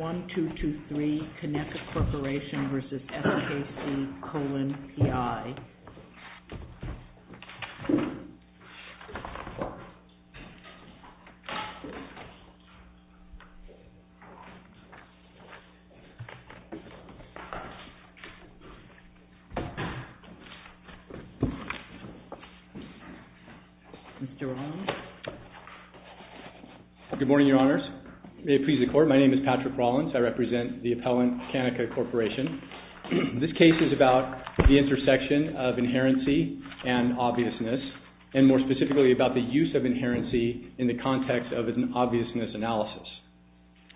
1-223-Koneka Corporation v. SKC Kolon PI Mr. Roland? Good morning, Your Honors. May it please the Court, my name is Patrick Rolands. I represent the appellant Kaneka Corporation. This case is about the intersection of inherency and obviousness, and more specifically about the use of inherency in the context of an obviousness analysis.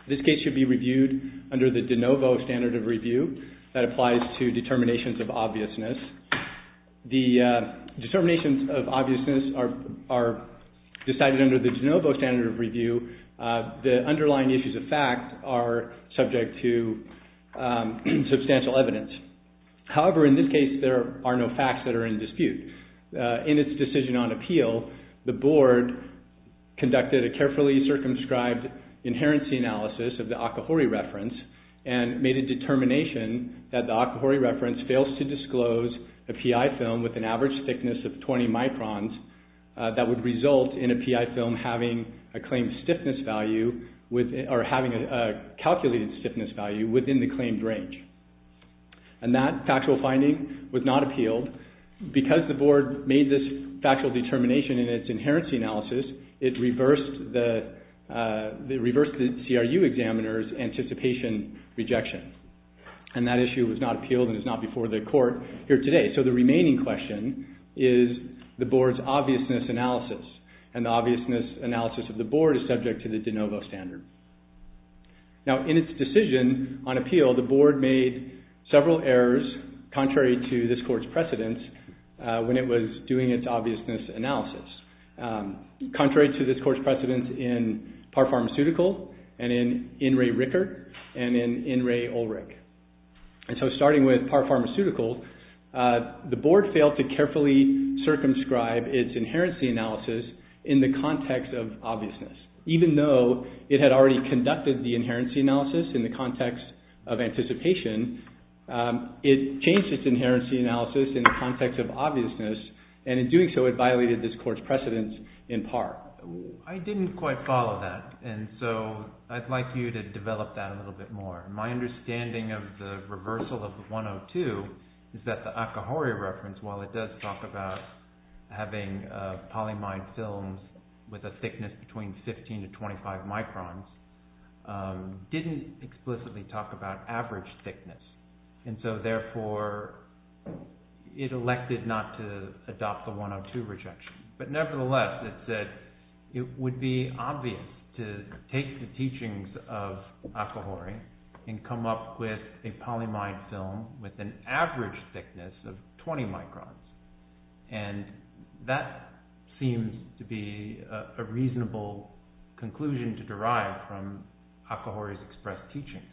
This case should be reviewed under the de novo standard of review that applies to determinations of obviousness. The determinations of obviousness are decided under the de novo standard of review. The underlying issues of fact are subject to substantial evidence. However, in this case, there are no facts that are in dispute. In its decision on appeal, the Board conducted a carefully circumscribed inherency analysis of the Akahori reference and made a determination that the Akahori reference fails to disclose a PI film with an average thickness of 20 microns that would result in a PI film having a claimed stiffness value or having a calculated stiffness value within the claimed range. And that factual finding was not appealed. Because the Board made this factual determination in its inherency analysis, it reversed the CRU examiner's anticipation rejection. And that issue was not appealed and is not before the Court here today. So the remaining question is the Board's obviousness analysis. And the obviousness analysis of the Board is subject to the de novo standard. Now, in its decision on appeal, the Board made several errors contrary to this Court's precedence when it was doing its obviousness analysis. Contrary to this Court's precedence in PAR Pharmaceutical and in INRI Ricker and in INRI Ulrich. And so starting with PAR Pharmaceutical, the Board failed to carefully circumscribe its inherency analysis in the context of obviousness. Even though it had already conducted the inherency analysis in the context of anticipation, it changed its inherency analysis in the context of obviousness. And in doing so, it violated this Court's precedence in PAR. I didn't quite follow that, and so I'd like you to develop that a little bit more. My understanding of the reversal of the 102 is that the Akahori reference, while it does talk about having polyimide films with a thickness between 15 to 25 microns, didn't explicitly talk about average thickness. And so therefore, it elected not to adopt the 102 rejection. But nevertheless, it said it would be obvious to take the teachings of Akahori and come up with a polyimide film with an average thickness of 20 microns. And that seems to be a reasonable conclusion to derive from Akahori's expressed teachings.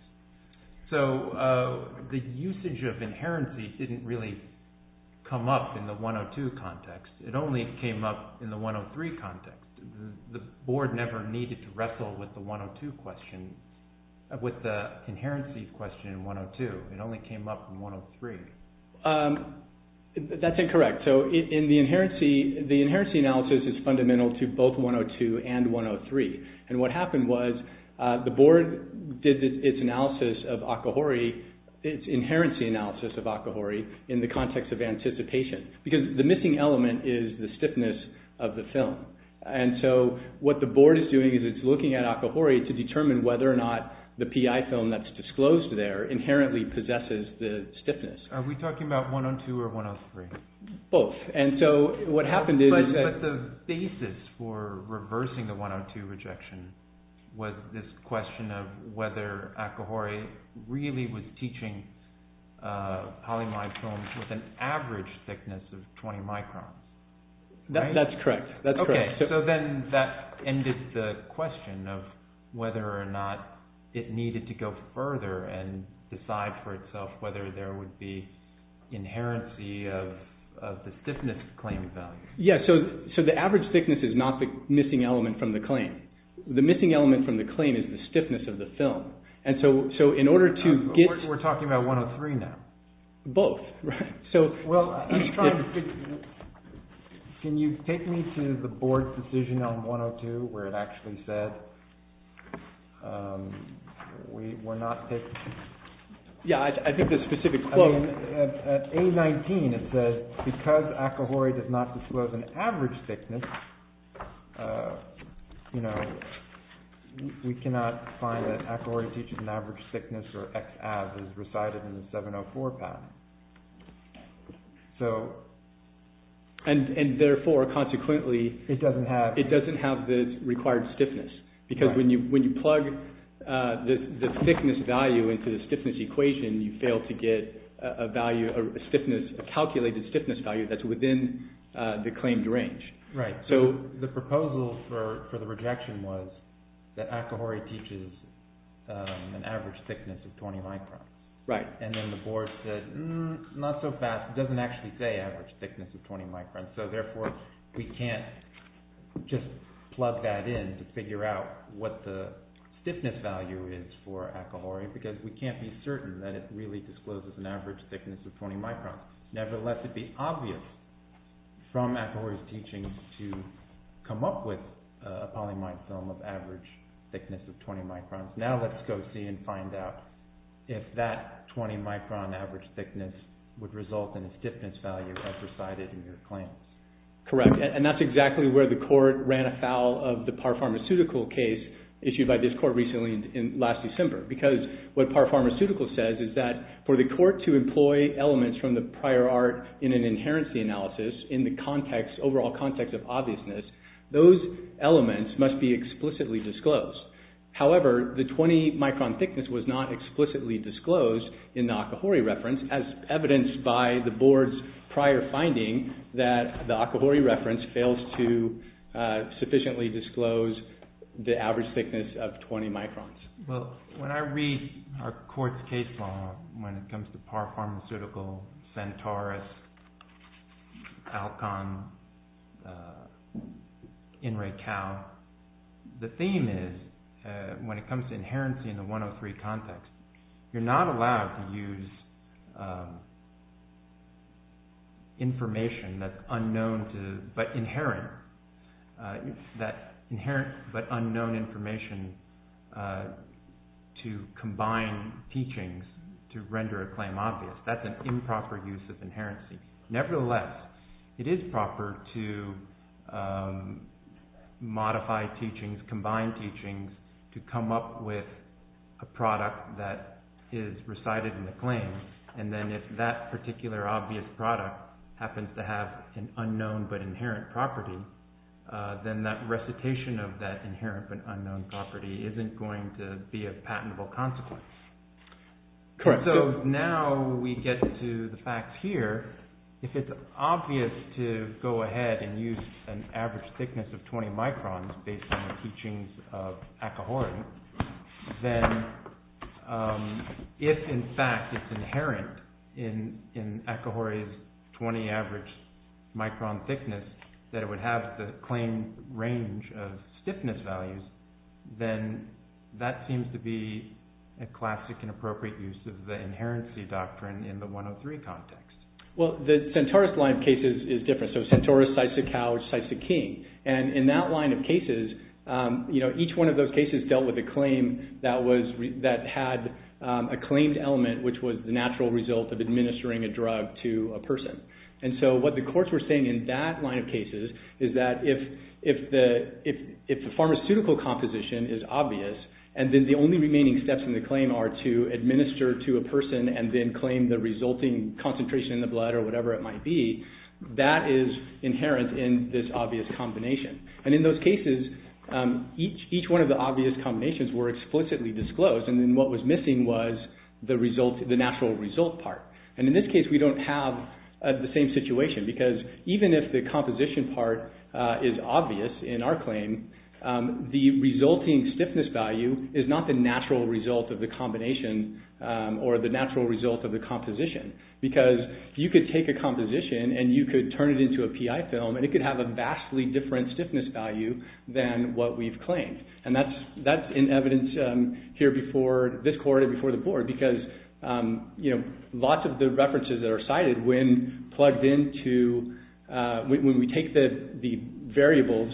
So the usage of inherency didn't really come up in the 102 context. It only came up in the 103 context. The Board never needed to wrestle with the 102 question, with the inherency question in 102. It only came up in 103. That's incorrect. So the inherency analysis is fundamental to both 102 and 103. And what happened was the Board did its analysis of Akahori, its inherency analysis of Akahori, in the context of anticipation. Because the missing element is the stiffness of the film. And so what the Board is doing is it's looking at Akahori to determine whether or not the PI film that's disclosed there inherently possesses the stiffness. Are we talking about 102 or 103? Both. But the basis for reversing the 102 rejection was this question of whether Akahori really was teaching polyimide films with an average thickness of 20 microns. That's correct. Okay, so then that ended the question of whether or not it needed to go further and decide for itself whether there would be inherency of the stiffness claim value. Yeah, so the average thickness is not the missing element from the claim. The missing element from the claim is the stiffness of the film. And so in order to get – We're talking about 103 now. Both. Well, can you take me to the Board's decision on 102 where it actually says we're not taking – Yeah, I think the specific quote – You know, we cannot find that Akahori teaches an average thickness or X abs as recited in the 704 path. So – And therefore, consequently – It doesn't have – Because when you plug the thickness value into the stiffness equation, you fail to get a value, a calculated stiffness value that's within the claimed range. Right. So the proposal for the rejection was that Akahori teaches an average thickness of 20 microns. Right. And then the Board said, not so fast. It doesn't actually say average thickness of 20 microns. So therefore, we can't just plug that in to figure out what the stiffness value is for Akahori because we can't be certain that it really discloses an average thickness of 20 microns. Nevertheless, it'd be obvious from Akahori's teaching to come up with a polyimide film of average thickness of 20 microns. Now let's go see and find out if that 20 micron average thickness would result in a stiffness value as recited in your claim. Correct. And that's exactly where the court ran afoul of the Parr Pharmaceutical case issued by this court recently in – last December. Because what Parr Pharmaceutical says is that for the court to employ elements from the prior art in an inherency analysis in the context, overall context of obviousness, those elements must be explicitly disclosed. However, the 20 micron thickness was not explicitly disclosed in the Akahori reference as evidenced by the Board's prior finding that the Akahori reference fails to sufficiently disclose the average thickness of 20 microns. Well, when I read our court's case law when it comes to Parr Pharmaceutical, Centaurus, Alcon, In Recal, the theme is when it comes to inherency in the 103 context, you're not allowed to use information that's unknown but inherent. That inherent but unknown information to combine teachings to render a claim obvious, that's an improper use of inherency. Then that recitation of that inherent but unknown property isn't going to be a patentable consequence. Correct. So now we get to the fact here, if it's obvious to go ahead and use an average thickness of 20 microns based on the teachings of Akahori, then if in fact it's inherent in Akahori's 20 average micron thickness that it would have the claimed range of stiffness values, then that seems to be a classic and appropriate use of the inherency doctrine in the 103 context. Well, the Centaurus line of cases is different. So Centaurus, Sisa-Cow, Sisa-King. And in that line of cases, each one of those cases dealt with a claim that had a claimed element which was the natural result of administering a drug to a person. And so what the courts were saying in that line of cases is that if the pharmaceutical composition is obvious and then the only remaining steps in the claim are to administer to a person and then claim the resulting concentration in the blood or whatever it might be, that is inherent in this obvious combination. And in those cases, each one of the obvious combinations were explicitly disclosed. And then what was missing was the natural result part. And in this case, we don't have the same situation because even if the composition part is obvious in our claim, the resulting stiffness value is not the natural result of the combination or the natural result of the composition. Because you could take a composition and you could turn it into a PI film and it could have a vastly different stiffness value than what we've claimed. And that's in evidence here before this court and before the board because lots of the references that are cited when we take the variables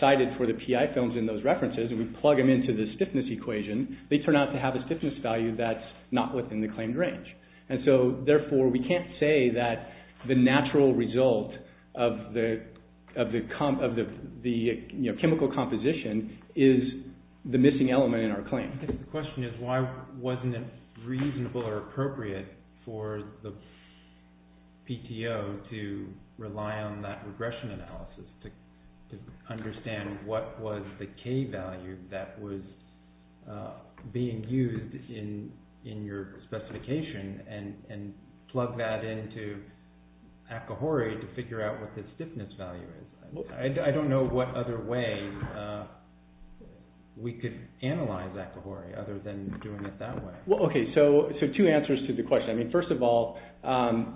cited for the PI films in those references and we plug them into the stiffness equation, they turn out to have a stiffness value that's not within the claimed range. And so therefore, we can't say that the natural result of the chemical composition is the missing element in our claim. I think the question is why wasn't it reasonable or appropriate for the PTO to rely on that regression analysis to understand what was the K value that was being used in your specification and plug that into Akahori to figure out what the stiffness value is. I don't know what other way we could analyze Akahori other than doing it that way. Well, okay, so two answers to the question. I mean, first of all,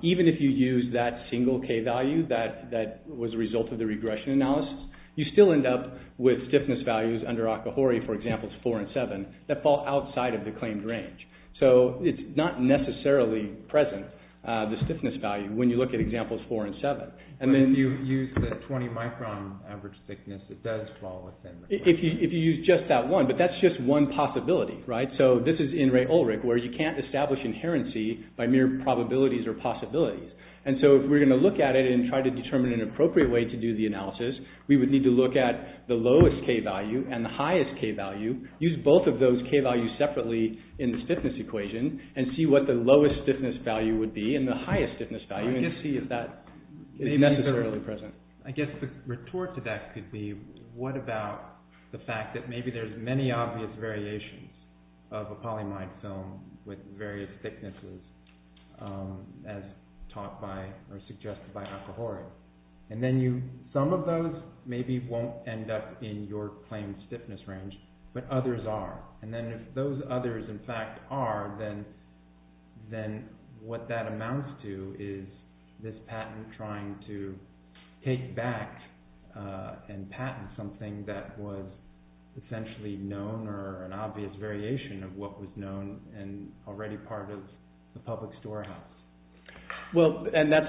even if you use that single K value that was a result of the regression analysis, you still end up with stiffness values under Akahori for examples four and seven that fall outside of the claimed range. So it's not necessarily present, the stiffness value, when you look at examples four and seven. But if you use the 20 micron average thickness, it does fall within the claim. If you use just that one, but that's just one possibility, right? So this is in Ray Ulrich where you can't establish inherency by mere probabilities or possibilities. And so if we're going to look at it and try to determine an appropriate way to do the analysis, we would need to look at the lowest K value and the highest K value. Use both of those K values separately in the stiffness equation and see what the lowest stiffness value would be and the highest stiffness value. I guess the retort to that could be, what about the fact that maybe there's many obvious variations of a polyimide film with various thicknesses as taught by or suggested by Akahori? And then some of those maybe won't end up in your claimed stiffness range, but others are. And then if those others in fact are, then what that amounts to is this patent trying to take back and patent something that was essentially known or an obvious variation of what was known and already part of the public storehouse. Well, and that's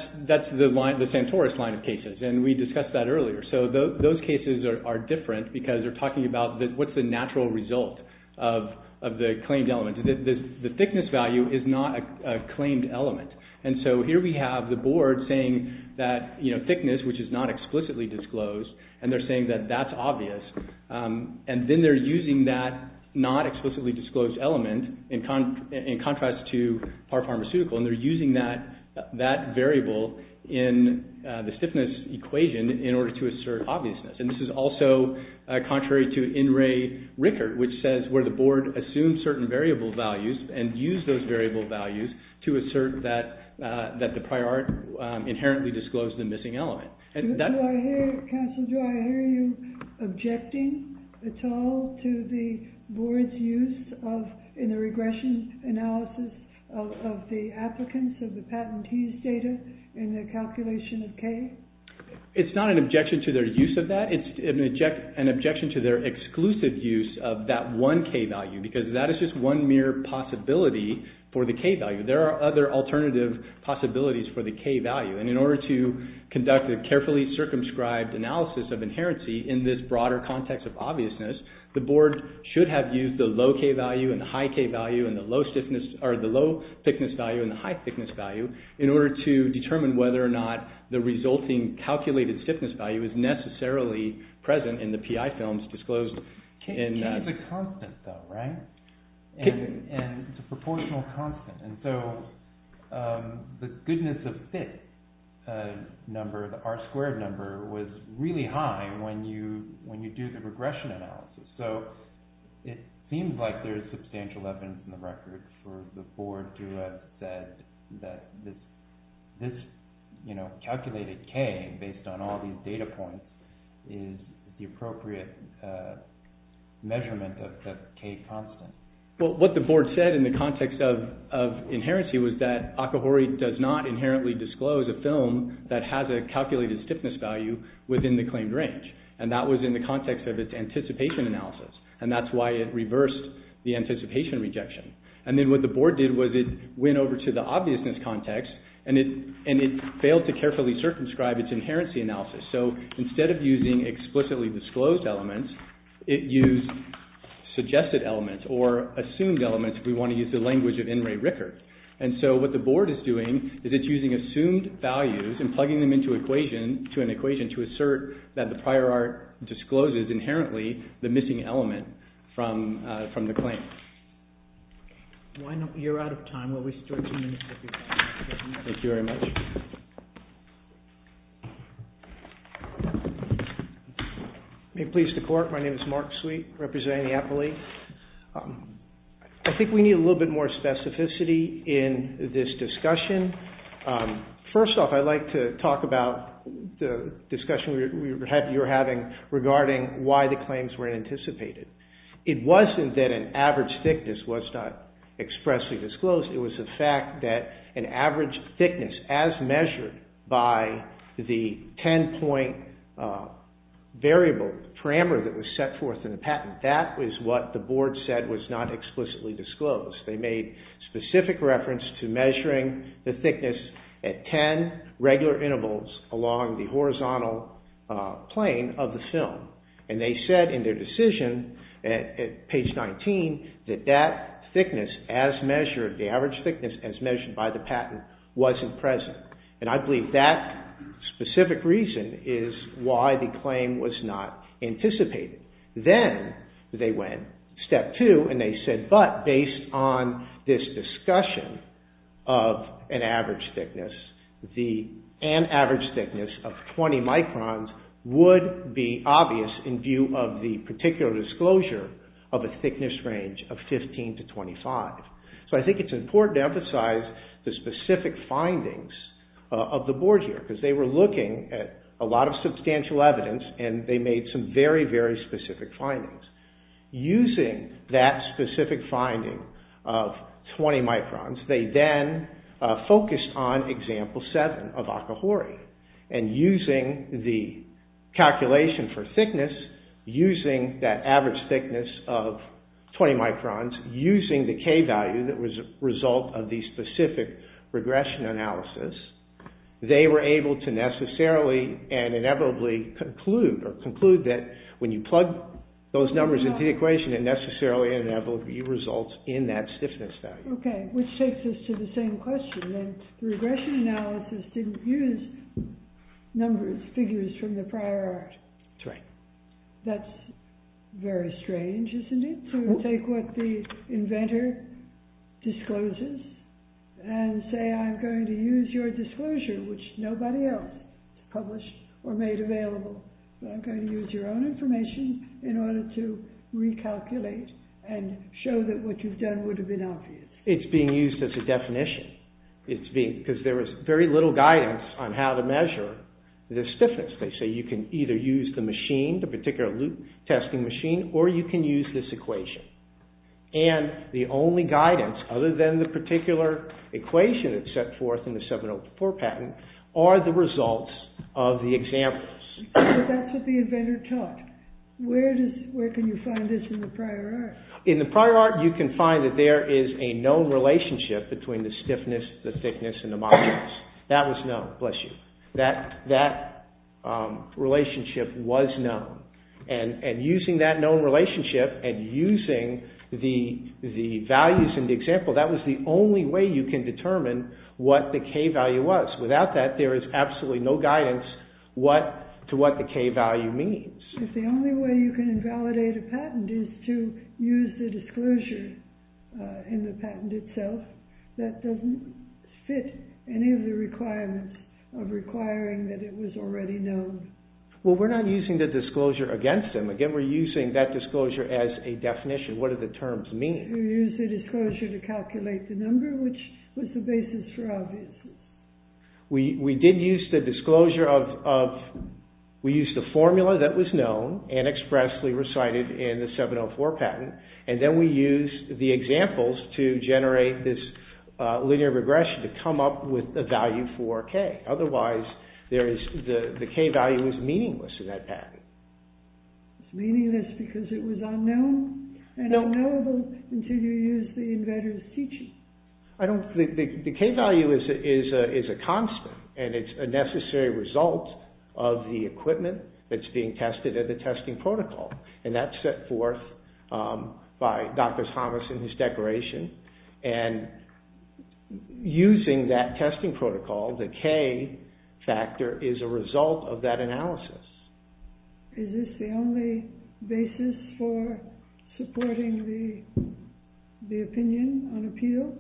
the Santoros line of cases, and we discussed that earlier. So those cases are different because they're talking about what's the natural result of the claimed element. The thickness value is not a claimed element. And so here we have the board saying that thickness, which is not explicitly disclosed, and they're saying that that's obvious. And then they're using that not-explicitly-disclosed element in contrast to pharmaceutical, and they're using that variable in the stiffness equation in order to assert obviousness. And this is also contrary to In Re Ricard, which says where the board assumes certain variable values and use those variable values to assert that the prior art inherently disclosed the missing element. Counsel, do I hear you objecting at all to the board's use in the regression analysis of the applicants of the patentees' data in the calculation of K? It's not an objection to their use of that. It's an objection to their exclusive use of that one K value because that is just one mere possibility for the K value. There are other alternative possibilities for the K value. And in order to conduct a carefully circumscribed analysis of inherency in this broader context of obviousness, the board should have used the low K value and the high K value and the low thickness value and the high thickness value in order to determine whether or not the resulting calculated stiffness value is necessarily present in the PI films disclosed. K is a constant, though, right? And it's a proportional constant. And so the goodness of fit number, the R squared number, was really high when you do the regression analysis. So it seems like there is substantial evidence in the record for the board to have said that this calculated K based on all these data points is the appropriate measurement of the K constant. Well, what the board said in the context of inherency was that Akahori does not inherently disclose a film that has a calculated stiffness value within the claimed range. And that was in the context of its anticipation analysis. And that's why it reversed the anticipation rejection. And then what the board did was it went over to the obviousness context and it failed to carefully circumscribe its inherency analysis. So instead of using explicitly disclosed elements, it used suggested elements or assumed elements if we want to use the language of N. Ray Rickert. And so what the board is doing is it's using assumed values and plugging them into an equation to assert that the prior art discloses inherently the missing element from the claim. You're out of time. We'll restart in a minute. Thank you very much. May it please the court, my name is Mark Sweet representing the Appellee. I think we need a little bit more specificity in this discussion. First off, I'd like to talk about the discussion you're having regarding why the claims were anticipated. It wasn't that an average thickness was not expressly disclosed. It was the fact that an average thickness as measured by the ten point variable parameter that was set forth in the patent, that is what the board said was not explicitly disclosed. They made specific reference to measuring the thickness at ten regular intervals along the horizontal plane of the film. And they said in their decision at page 19 that that thickness as measured, the average thickness as measured by the patent wasn't present. And I believe that specific reason is why the claim was not anticipated. Then they went step two and they said, but based on this discussion of an average thickness, an average thickness of 20 microns would be obvious in view of the particular disclosure of a thickness range of 15 to 25. So I think it's important to emphasize the specific findings of the board here because they were looking at a lot of substantial evidence and they made some very, very specific findings. Using that specific finding of 20 microns, they then focused on example seven of Akahori. And using the calculation for thickness, using that average thickness of 20 microns, using the K value that was a result of the specific regression analysis, they were able to necessarily and inevitably conclude that when you plug those numbers into the equation, it necessarily and inevitably results in that stiffness value. Okay, which takes us to the same question, that the regression analysis didn't use numbers, figures from the prior art. That's right. It's very strange, isn't it, to take what the inventor discloses and say I'm going to use your disclosure, which nobody else published or made available. I'm going to use your own information in order to recalculate and show that what you've done would have been obvious. It's being used as a definition. It's being, because there was very little guidance on how to measure the stiffness. They say you can either use the machine, the particular loop testing machine, or you can use this equation. And the only guidance, other than the particular equation that's set forth in the 704 patent, are the results of the examples. But that's what the inventor taught. Where can you find this in the prior art? In the prior art, you can find that there is a known relationship between the stiffness, the thickness, and the modulus. That was known, bless you. That relationship was known. And using that known relationship and using the values in the example, that was the only way you can determine what the K value was. Without that, there is absolutely no guidance to what the K value means. If the only way you can invalidate a patent is to use the disclosure in the patent itself, that doesn't fit any of the requirements of requiring that it was already known. Well, we're not using the disclosure against them. Again, we're using that disclosure as a definition. What do the terms mean? You use the disclosure to calculate the number, which was the basis for obviousness. We did use the disclosure of... We used the formula that was known and expressly recited in the 704 patent. And then we used the examples to generate this linear regression to come up with a value for K. Otherwise, the K value is meaningless in that patent. It's meaningless because it was unknown and unknowable until you used the inventor's teaching. The K value is a constant and it's a necessary result of the equipment that's being tested at the testing protocol. And that's set forth by Dr. Thomas in his declaration. And using that testing protocol, the K factor is a result of that analysis. Is this the only basis for supporting the opinion on appeal?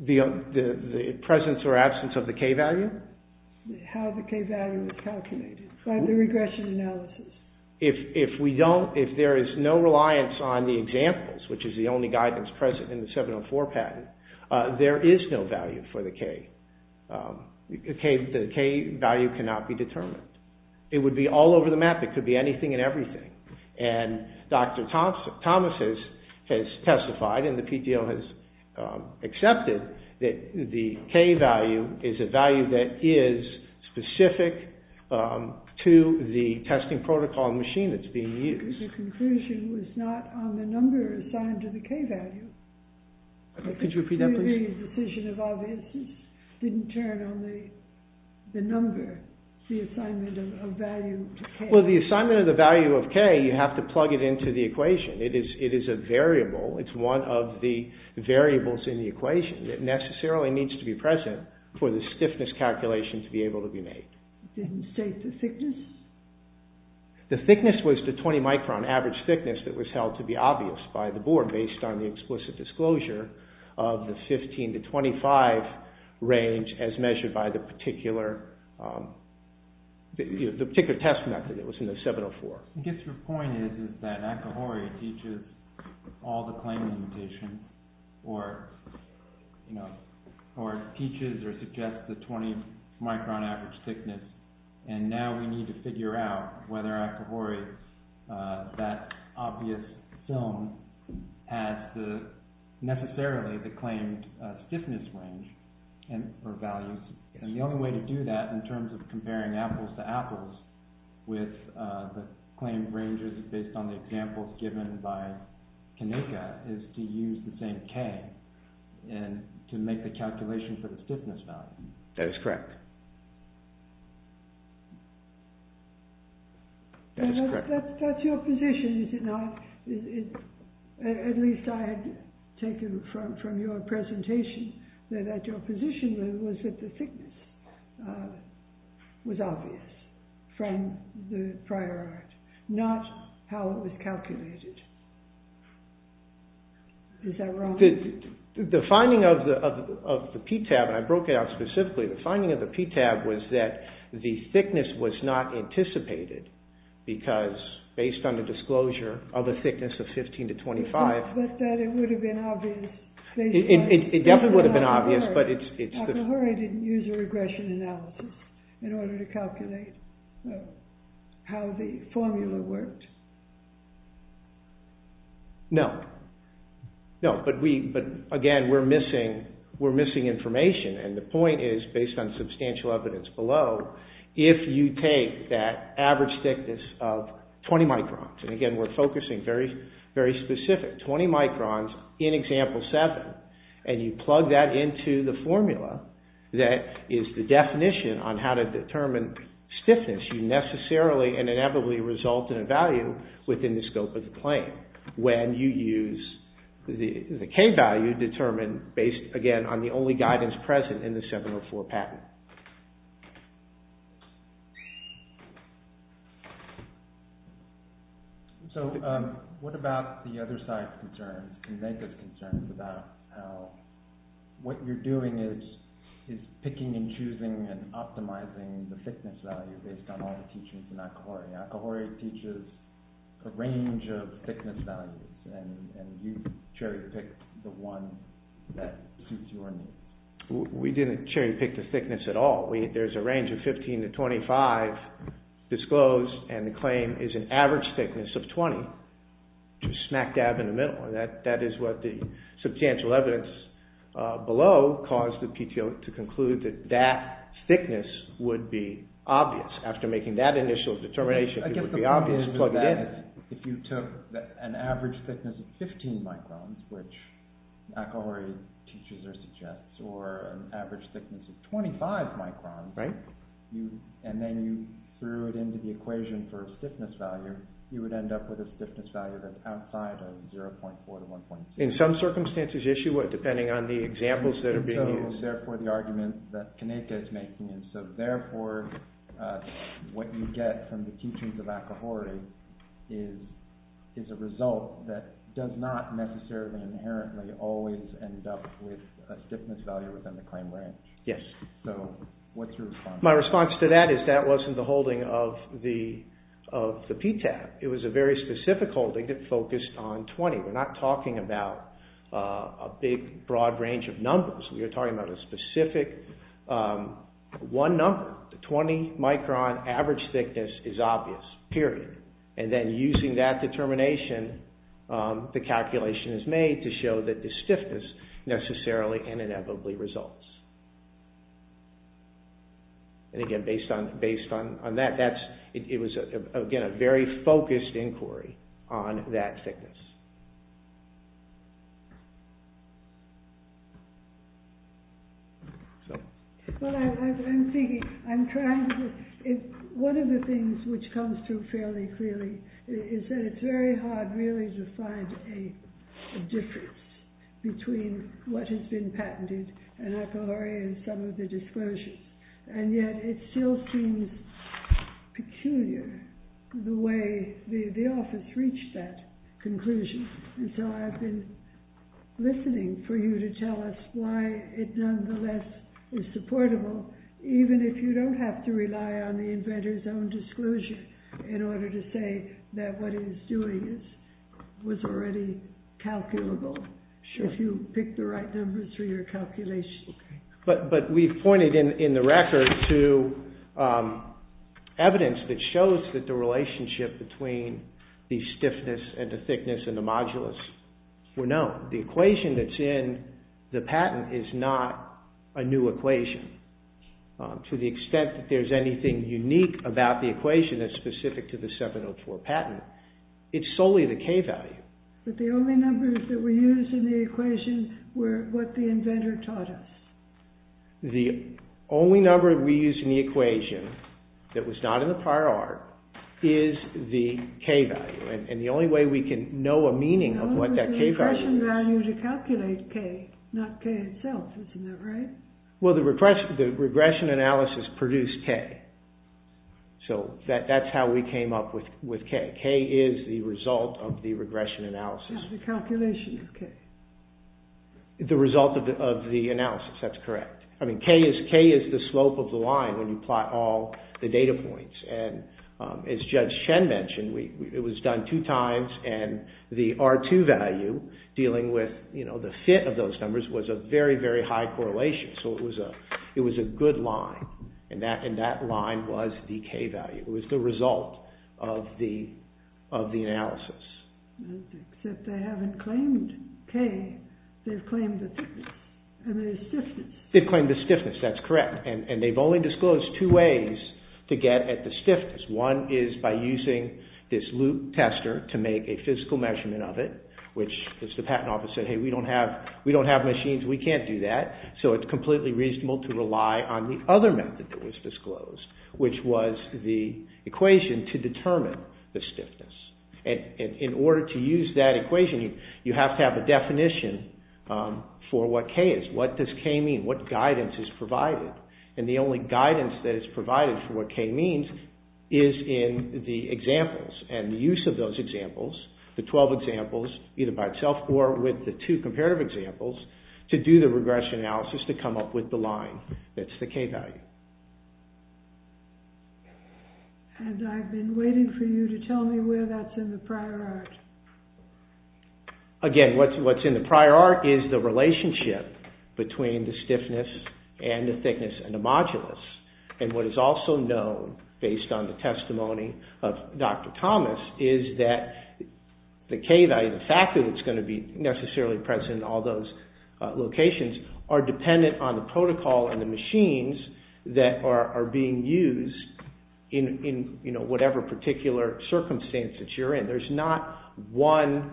The presence or absence of the K value? How the K value is calculated by the regression analysis. If there is no reliance on the examples, which is the only guidance present in the 704 patent, there is no value for the K. The K value cannot be determined. It would be all over the map. It could be anything and everything. And Dr. Thomas has testified and the PDO has accepted that the K value is a value that is specific to the testing protocol machine that's being used. The conclusion was not on the number assigned to the K value. Could you repeat that, please? The decision of obviousness didn't turn on the number, the assignment of value to K. Well, the assignment of the value of K, you have to plug it into the equation. It is a variable. It's one of the variables in the equation. It necessarily needs to be present for the stiffness calculation to be able to be made. Didn't state the thickness? The thickness was the 20 micron average thickness that was held to be obvious by the board based on the explicit disclosure of the 15 to 25 range as measured by the particular test method that was in the 704. I guess your point is that Akahori teaches all the claim limitation or teaches or suggests the 20 micron average thickness. And now we need to figure out whether Akahori, that obvious film, has necessarily the claimed stiffness range or values. And the only way to do that in terms of comparing apples to apples with the claimed ranges based on the examples given by Kanika is to use the same K to make the calculation for the stiffness value. That is correct. That's your position, is it not? At least I had taken from your presentation that your position was that the thickness was obvious from the prior art, not how it was calculated. Is that wrong? The finding of the PTAB, and I broke it out specifically, the finding of the PTAB was that the thickness was not anticipated because based on the disclosure of a thickness of 15 to 25... But that it would have been obvious... It definitely would have been obvious, but it's... Akahori didn't use a regression analysis in order to calculate how the formula worked. No. No, but again, we're missing information, and the point is, based on substantial evidence below, if you take that average thickness of 20 microns, and again, we're focusing very specific, 20 microns in example 7, and you plug that into the formula that is the definition on how to determine stiffness, you necessarily and inevitably result in a value within the scope of the claim, when you use the K value determined based, again, on the only guidance present in the 704 patent. So, what about the other side's concerns, and Megha's concerns, about how what you're doing is picking and choosing and optimizing the thickness value based on all the teachings in Akahori? Akahori teaches a range of thickness values, and you cherry-picked the one that suits your needs. We didn't cherry-pick the thickness at all. There's a range of 15 to 25 disclosed, and the claim is an average thickness of 20, to smack-dab in the middle. That is what the substantial evidence below caused the PTO to conclude, that that thickness would be obvious. After making that initial determination, it would be obvious to plug it in. If you took an average thickness of 15 microns, which Akahori teaches or suggests, or an average thickness of 25 microns, and then you threw it into the equation for a stiffness value, you would end up with a stiffness value that's outside of 0.4 to 1.6. In some circumstances, yes, you would, depending on the examples that are being used. So, therefore, what you get from the teachings of Akahori is a result that does not necessarily inherently always end up with a stiffness value within the claim range. Yes. So, what's your response? My response to that is that wasn't the holding of the PTAB. It was a very specific holding that focused on 20. We're not talking about a big, broad range of numbers. We are talking about a specific one number. The 20 micron average thickness is obvious, period. And then using that determination, the calculation is made to show that the stiffness necessarily and inevitably results. And, again, based on that, it was, again, a very focused inquiry on that thickness. I'm thinking, I'm trying to, one of the things which comes through fairly clearly is that it's very hard, really, to find a difference between what has been patented and Akahori and some of the disclosures. And yet it still seems peculiar the way the office reached that conclusion. And so I've been listening for you to tell us why it nonetheless is supportable, even if you don't have to rely on the inventor's own disclosure in order to say that what he's doing was already calculable. Sure. If you pick the right numbers for your calculations. But we've pointed in the record to evidence that shows that the relationship between the stiffness and the thickness and the modulus were known. The equation that's in the patent is not a new equation. To the extent that there's anything unique about the equation that's specific to the 704 patent, it's solely the K value. But the only numbers that were used in the equation were what the inventor taught us. The only number we used in the equation that was not in the prior art is the K value. And the only way we can know a meaning of what that K value is... The only regression value to calculate K, not K itself, isn't that right? Well, the regression analysis produced K. So that's how we came up with K. K is the result of the regression analysis. The calculation of K. The result of the analysis, that's correct. I mean, K is the slope of the line when you plot all the data points. And as Judge Shen mentioned, it was done two times and the R2 value, dealing with the fit of those numbers, was a very, very high correlation. So it was a good line. And that line was the K value. It was the result of the analysis. Except they haven't claimed K. They've claimed the thickness and the stiffness. They've claimed the stiffness, that's correct. And they've only disclosed two ways to get at the stiffness. One is by using this loop tester to make a physical measurement of it, which the patent office said, hey, we don't have machines, we can't do that. So it's completely reasonable to rely on the other method that was disclosed, which was the equation to determine the stiffness. And in order to use that equation, you have to have a definition for what K is. What does K mean? What guidance is provided? And the only guidance that is provided for what K means is in the examples and the use of those examples, the 12 examples, either by itself or with the two comparative examples, to do the regression analysis to come up with the line that's the K value. And I've been waiting for you to tell me where that's in the prior art. Again, what's in the prior art is the relationship between the stiffness and the thickness and the modulus. And what is also known, based on the testimony of Dr. Thomas, is that the K value, the fact that it's going to be necessarily present in all those locations, are dependent on the protocol and the machines that are being used in whatever particular circumstance that you're in. There's not one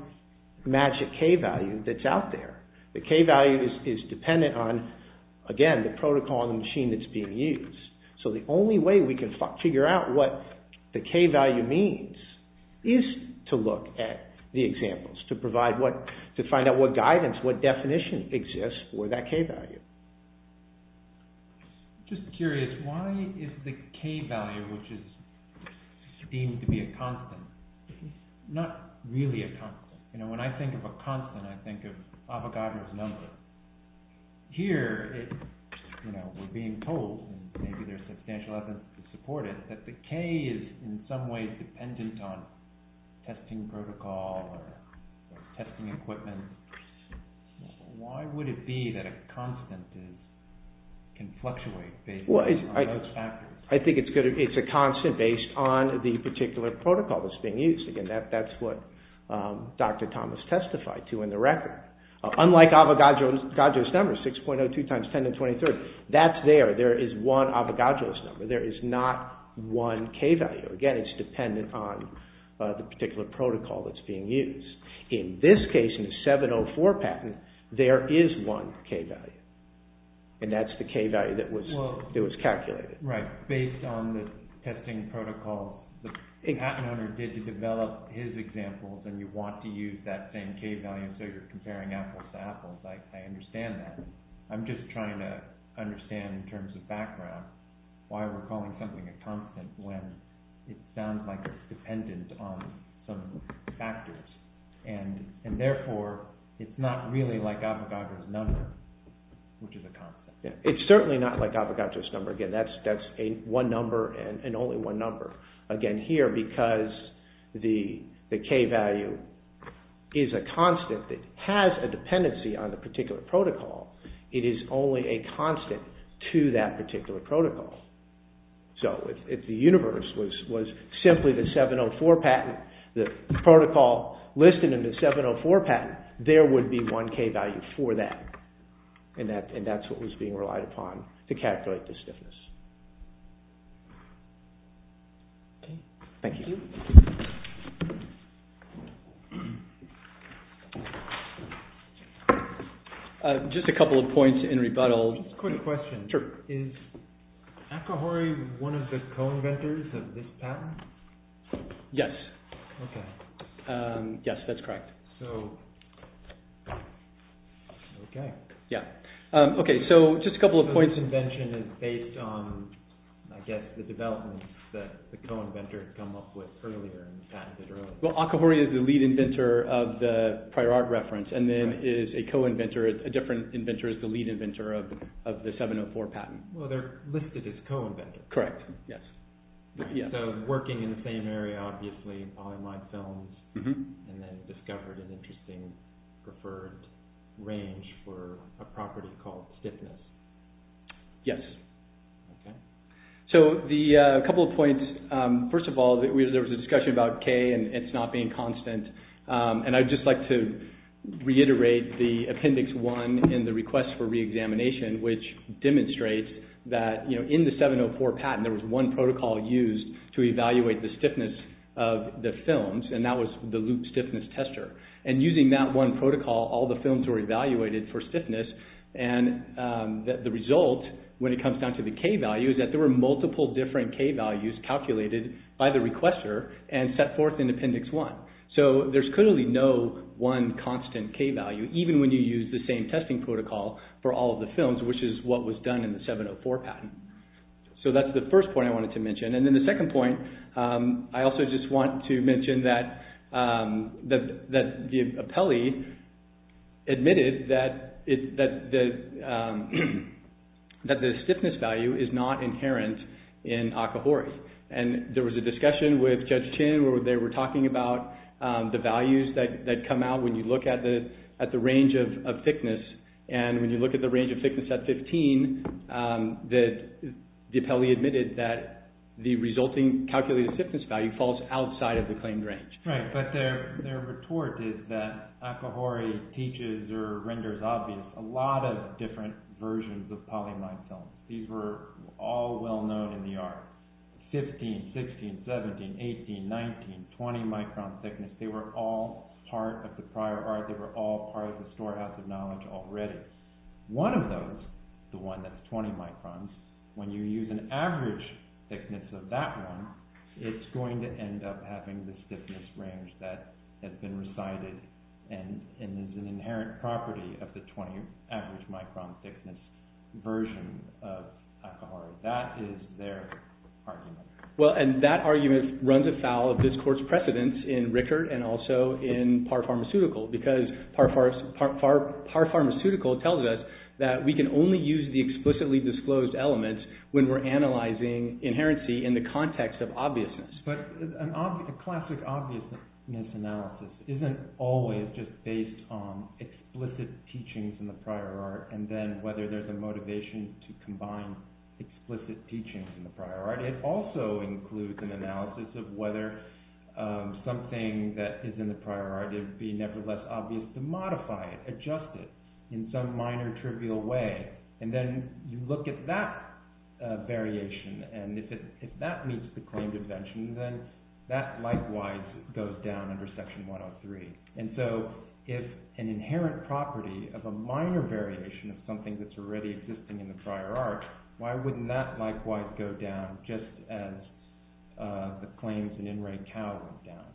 magic K value that's out there. The K value is dependent on, again, the protocol and the machine that's being used. So the only way we can figure out what the K value means is to look at the examples, to find out what guidance, what definition exists for that K value. Just curious, why is the K value, which is deemed to be a constant, not really a constant? When I think of a constant, I think of Avogadro's number. Here, we're being told, and maybe there's substantial evidence to support it, that the K is in some ways dependent on testing protocol or testing equipment. Why would it be that a constant can fluctuate based on those factors? I think it's a constant based on the particular protocol that's being used. Again, that's what Dr. Thomas testified to in the record. Unlike Avogadro's number, 6.02 times 10 to the 23rd, that's there. There is one Avogadro's number. There is not one K value. Again, it's dependent on the particular protocol that's being used. In this case, in the 704 patent, there is one K value, and that's the K value that was calculated. Based on the testing protocol, the patent owner did develop his examples, and you want to use that same K value, so you're comparing apples to apples. I understand that. I'm just trying to understand in terms of background why we're calling something a constant when it sounds like it's dependent on some factors. Therefore, it's not really like Avogadro's number, which is a constant. It's certainly not like Avogadro's number. Again, that's one number and only one number. Again, here, because the K value is a constant that has a dependency on the particular protocol, it is only a constant to that particular protocol. So, if the universe was simply the 704 patent, the protocol listed in the 704 patent, there would be one K value for that, and that's what was being relied upon to calculate the stiffness. Thank you. Just a couple of points in rebuttal. Just a quick question. Is Akahori one of the co-inventors of this patent? Yes. Yes, that's correct. Okay. Just a couple of points. The invention is based on, I guess, the developments that the co-inventors come up with earlier. Akahori is the lead inventor of the prior art reference and then is a co-inventor. A different inventor is the lead inventor of the 704 patent. Well, they're listed as co-inventors. Correct. Yes. So, working in the same area, obviously, polyimide films, and then discovered an interesting preferred range for a property called stiffness. Yes. Okay. So, a couple of points. First of all, there was a discussion about K and it's not being constant, and I'd just like to reiterate the Appendix 1 in the request for re-examination, which demonstrates that in the 704 patent, there was one protocol used to evaluate the stiffness of the films, and that was the loop stiffness tester. And using that one protocol, all the films were evaluated for stiffness, and the result, when it comes down to the K values, that there were multiple different K values calculated by the requester and set forth in Appendix 1. So, there's clearly no one constant K value, even when you use the same testing protocol for all of the films, which is what was done in the 704 patent. So, that's the first point I wanted to mention. And then the second point, I also just want to mention that the appellee admitted that the stiffness value is not inherent in Akahori. And there was a discussion with Judge Chin, where they were talking about the values that come out when you look at the range of thickness, and when you look at the range of thickness at 15, the appellee admitted that the resulting calculated stiffness value falls outside of the claimed range. Right, but their retort is that Akahori teaches or renders obvious a lot of different versions of polyimide films. These were all well known in the art. 15, 16, 17, 18, 19, 20 micron thickness. They were all part of the prior art. They were all part of the storehouse of knowledge already. One of those, the one that's 20 microns, when you use an average thickness of that one, it's going to end up having the stiffness range that has been recited and is an inherent property of the 20 average micron thickness version of Akahori. That is their argument. Well, and that argument runs afoul of this court's precedence in Rickert and also in Par Pharmaceutical, because Par Pharmaceutical tells us that we can only use the explicitly disclosed elements when we're analyzing inherency in the context of obviousness. But a classic obviousness analysis isn't always just based on explicit teachings in the prior art and then whether there's a motivation to combine explicit teachings in the prior art. It also includes an analysis of whether something that is in the prior art would be nevertheless obvious to modify it, adjust it in some minor trivial way. And then you look at that variation, and if that meets the claimed invention, then that likewise goes down under Section 103. And so if an inherent property of a minor variation of something that's already existing in the prior art, why wouldn't that likewise go down just as the claims in In Re Cao went down?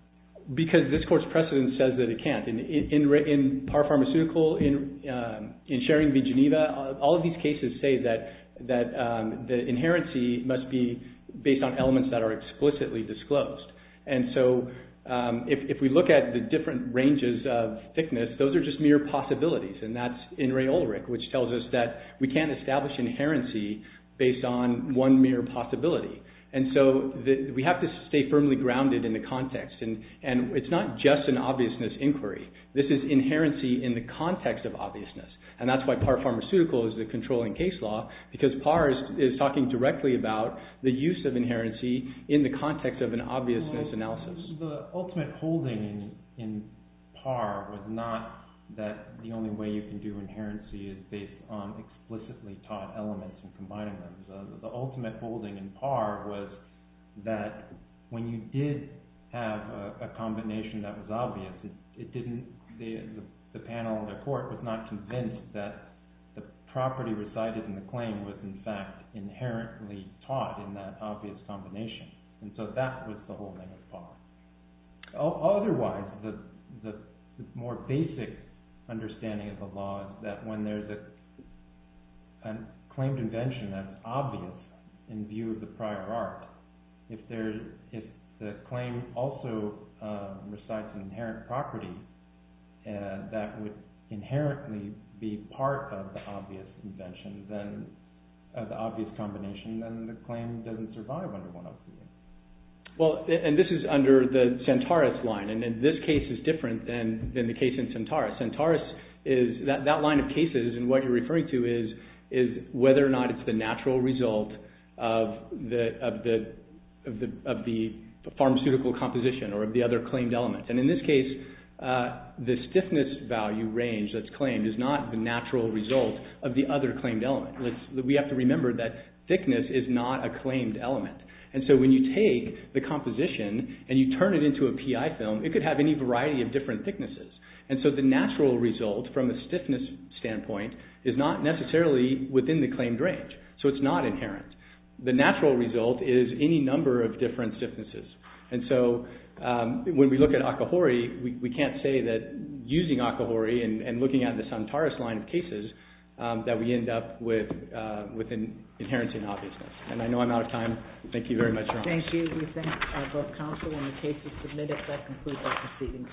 Because this court's precedence says that it can't. And in Par Pharmaceutical, in Schering v. Geneva, all of these cases say that the inherency must be based on elements that are explicitly disclosed. And so if we look at the different ranges of thickness, those are just mere possibilities. And that's In Re Ulrich, which tells us that we can't establish inherency based on one mere possibility. And so we have to stay firmly grounded in the context. And it's not just an obviousness inquiry. This is inherency in the context of obviousness. And that's why Par Pharmaceutical is the controlling case law, because Par is talking directly about the use of inherency in the context of an obviousness analysis. The ultimate holding in Par was not that the only way you can do inherency is based on explicitly taught elements and combining them. The ultimate holding in Par was that when you did have a combination that was obvious, the panel in the court was not convinced that the property resided in the claim was in fact inherently taught in that obvious combination. And so that was the holding of Par. Otherwise, the more basic understanding of the law is that when there's a claimed invention that's obvious in view of the prior art, if the claim also resides in inherent property that would inherently be part of the obvious invention, of the obvious combination, then the claim doesn't survive under one of these. Well, and this is under the Santaris line. And this case is different than the case in Santaris. That line of cases and what you're referring to is whether or not it's the natural result of the pharmaceutical composition or of the other claimed element. And in this case, the stiffness value range that's claimed is not the natural result of the other claimed element. We have to remember that thickness is not a claimed element. And so when you take the composition and you turn it into a PI film, it could have any variety of different thicknesses. And so the natural result from a stiffness standpoint is not necessarily within the claimed range. So it's not inherent. The natural result is any number of different stiffnesses. And so when we look at Akahori, we can't say that using Akahori and looking at the Santaris line of cases that we end up with an inherent in obviousness. And I know I'm out of time. Thank you very much, Your Honor. Thank you. We thank both counsel and the cases submitted. That concludes our proceedings for today. All rise.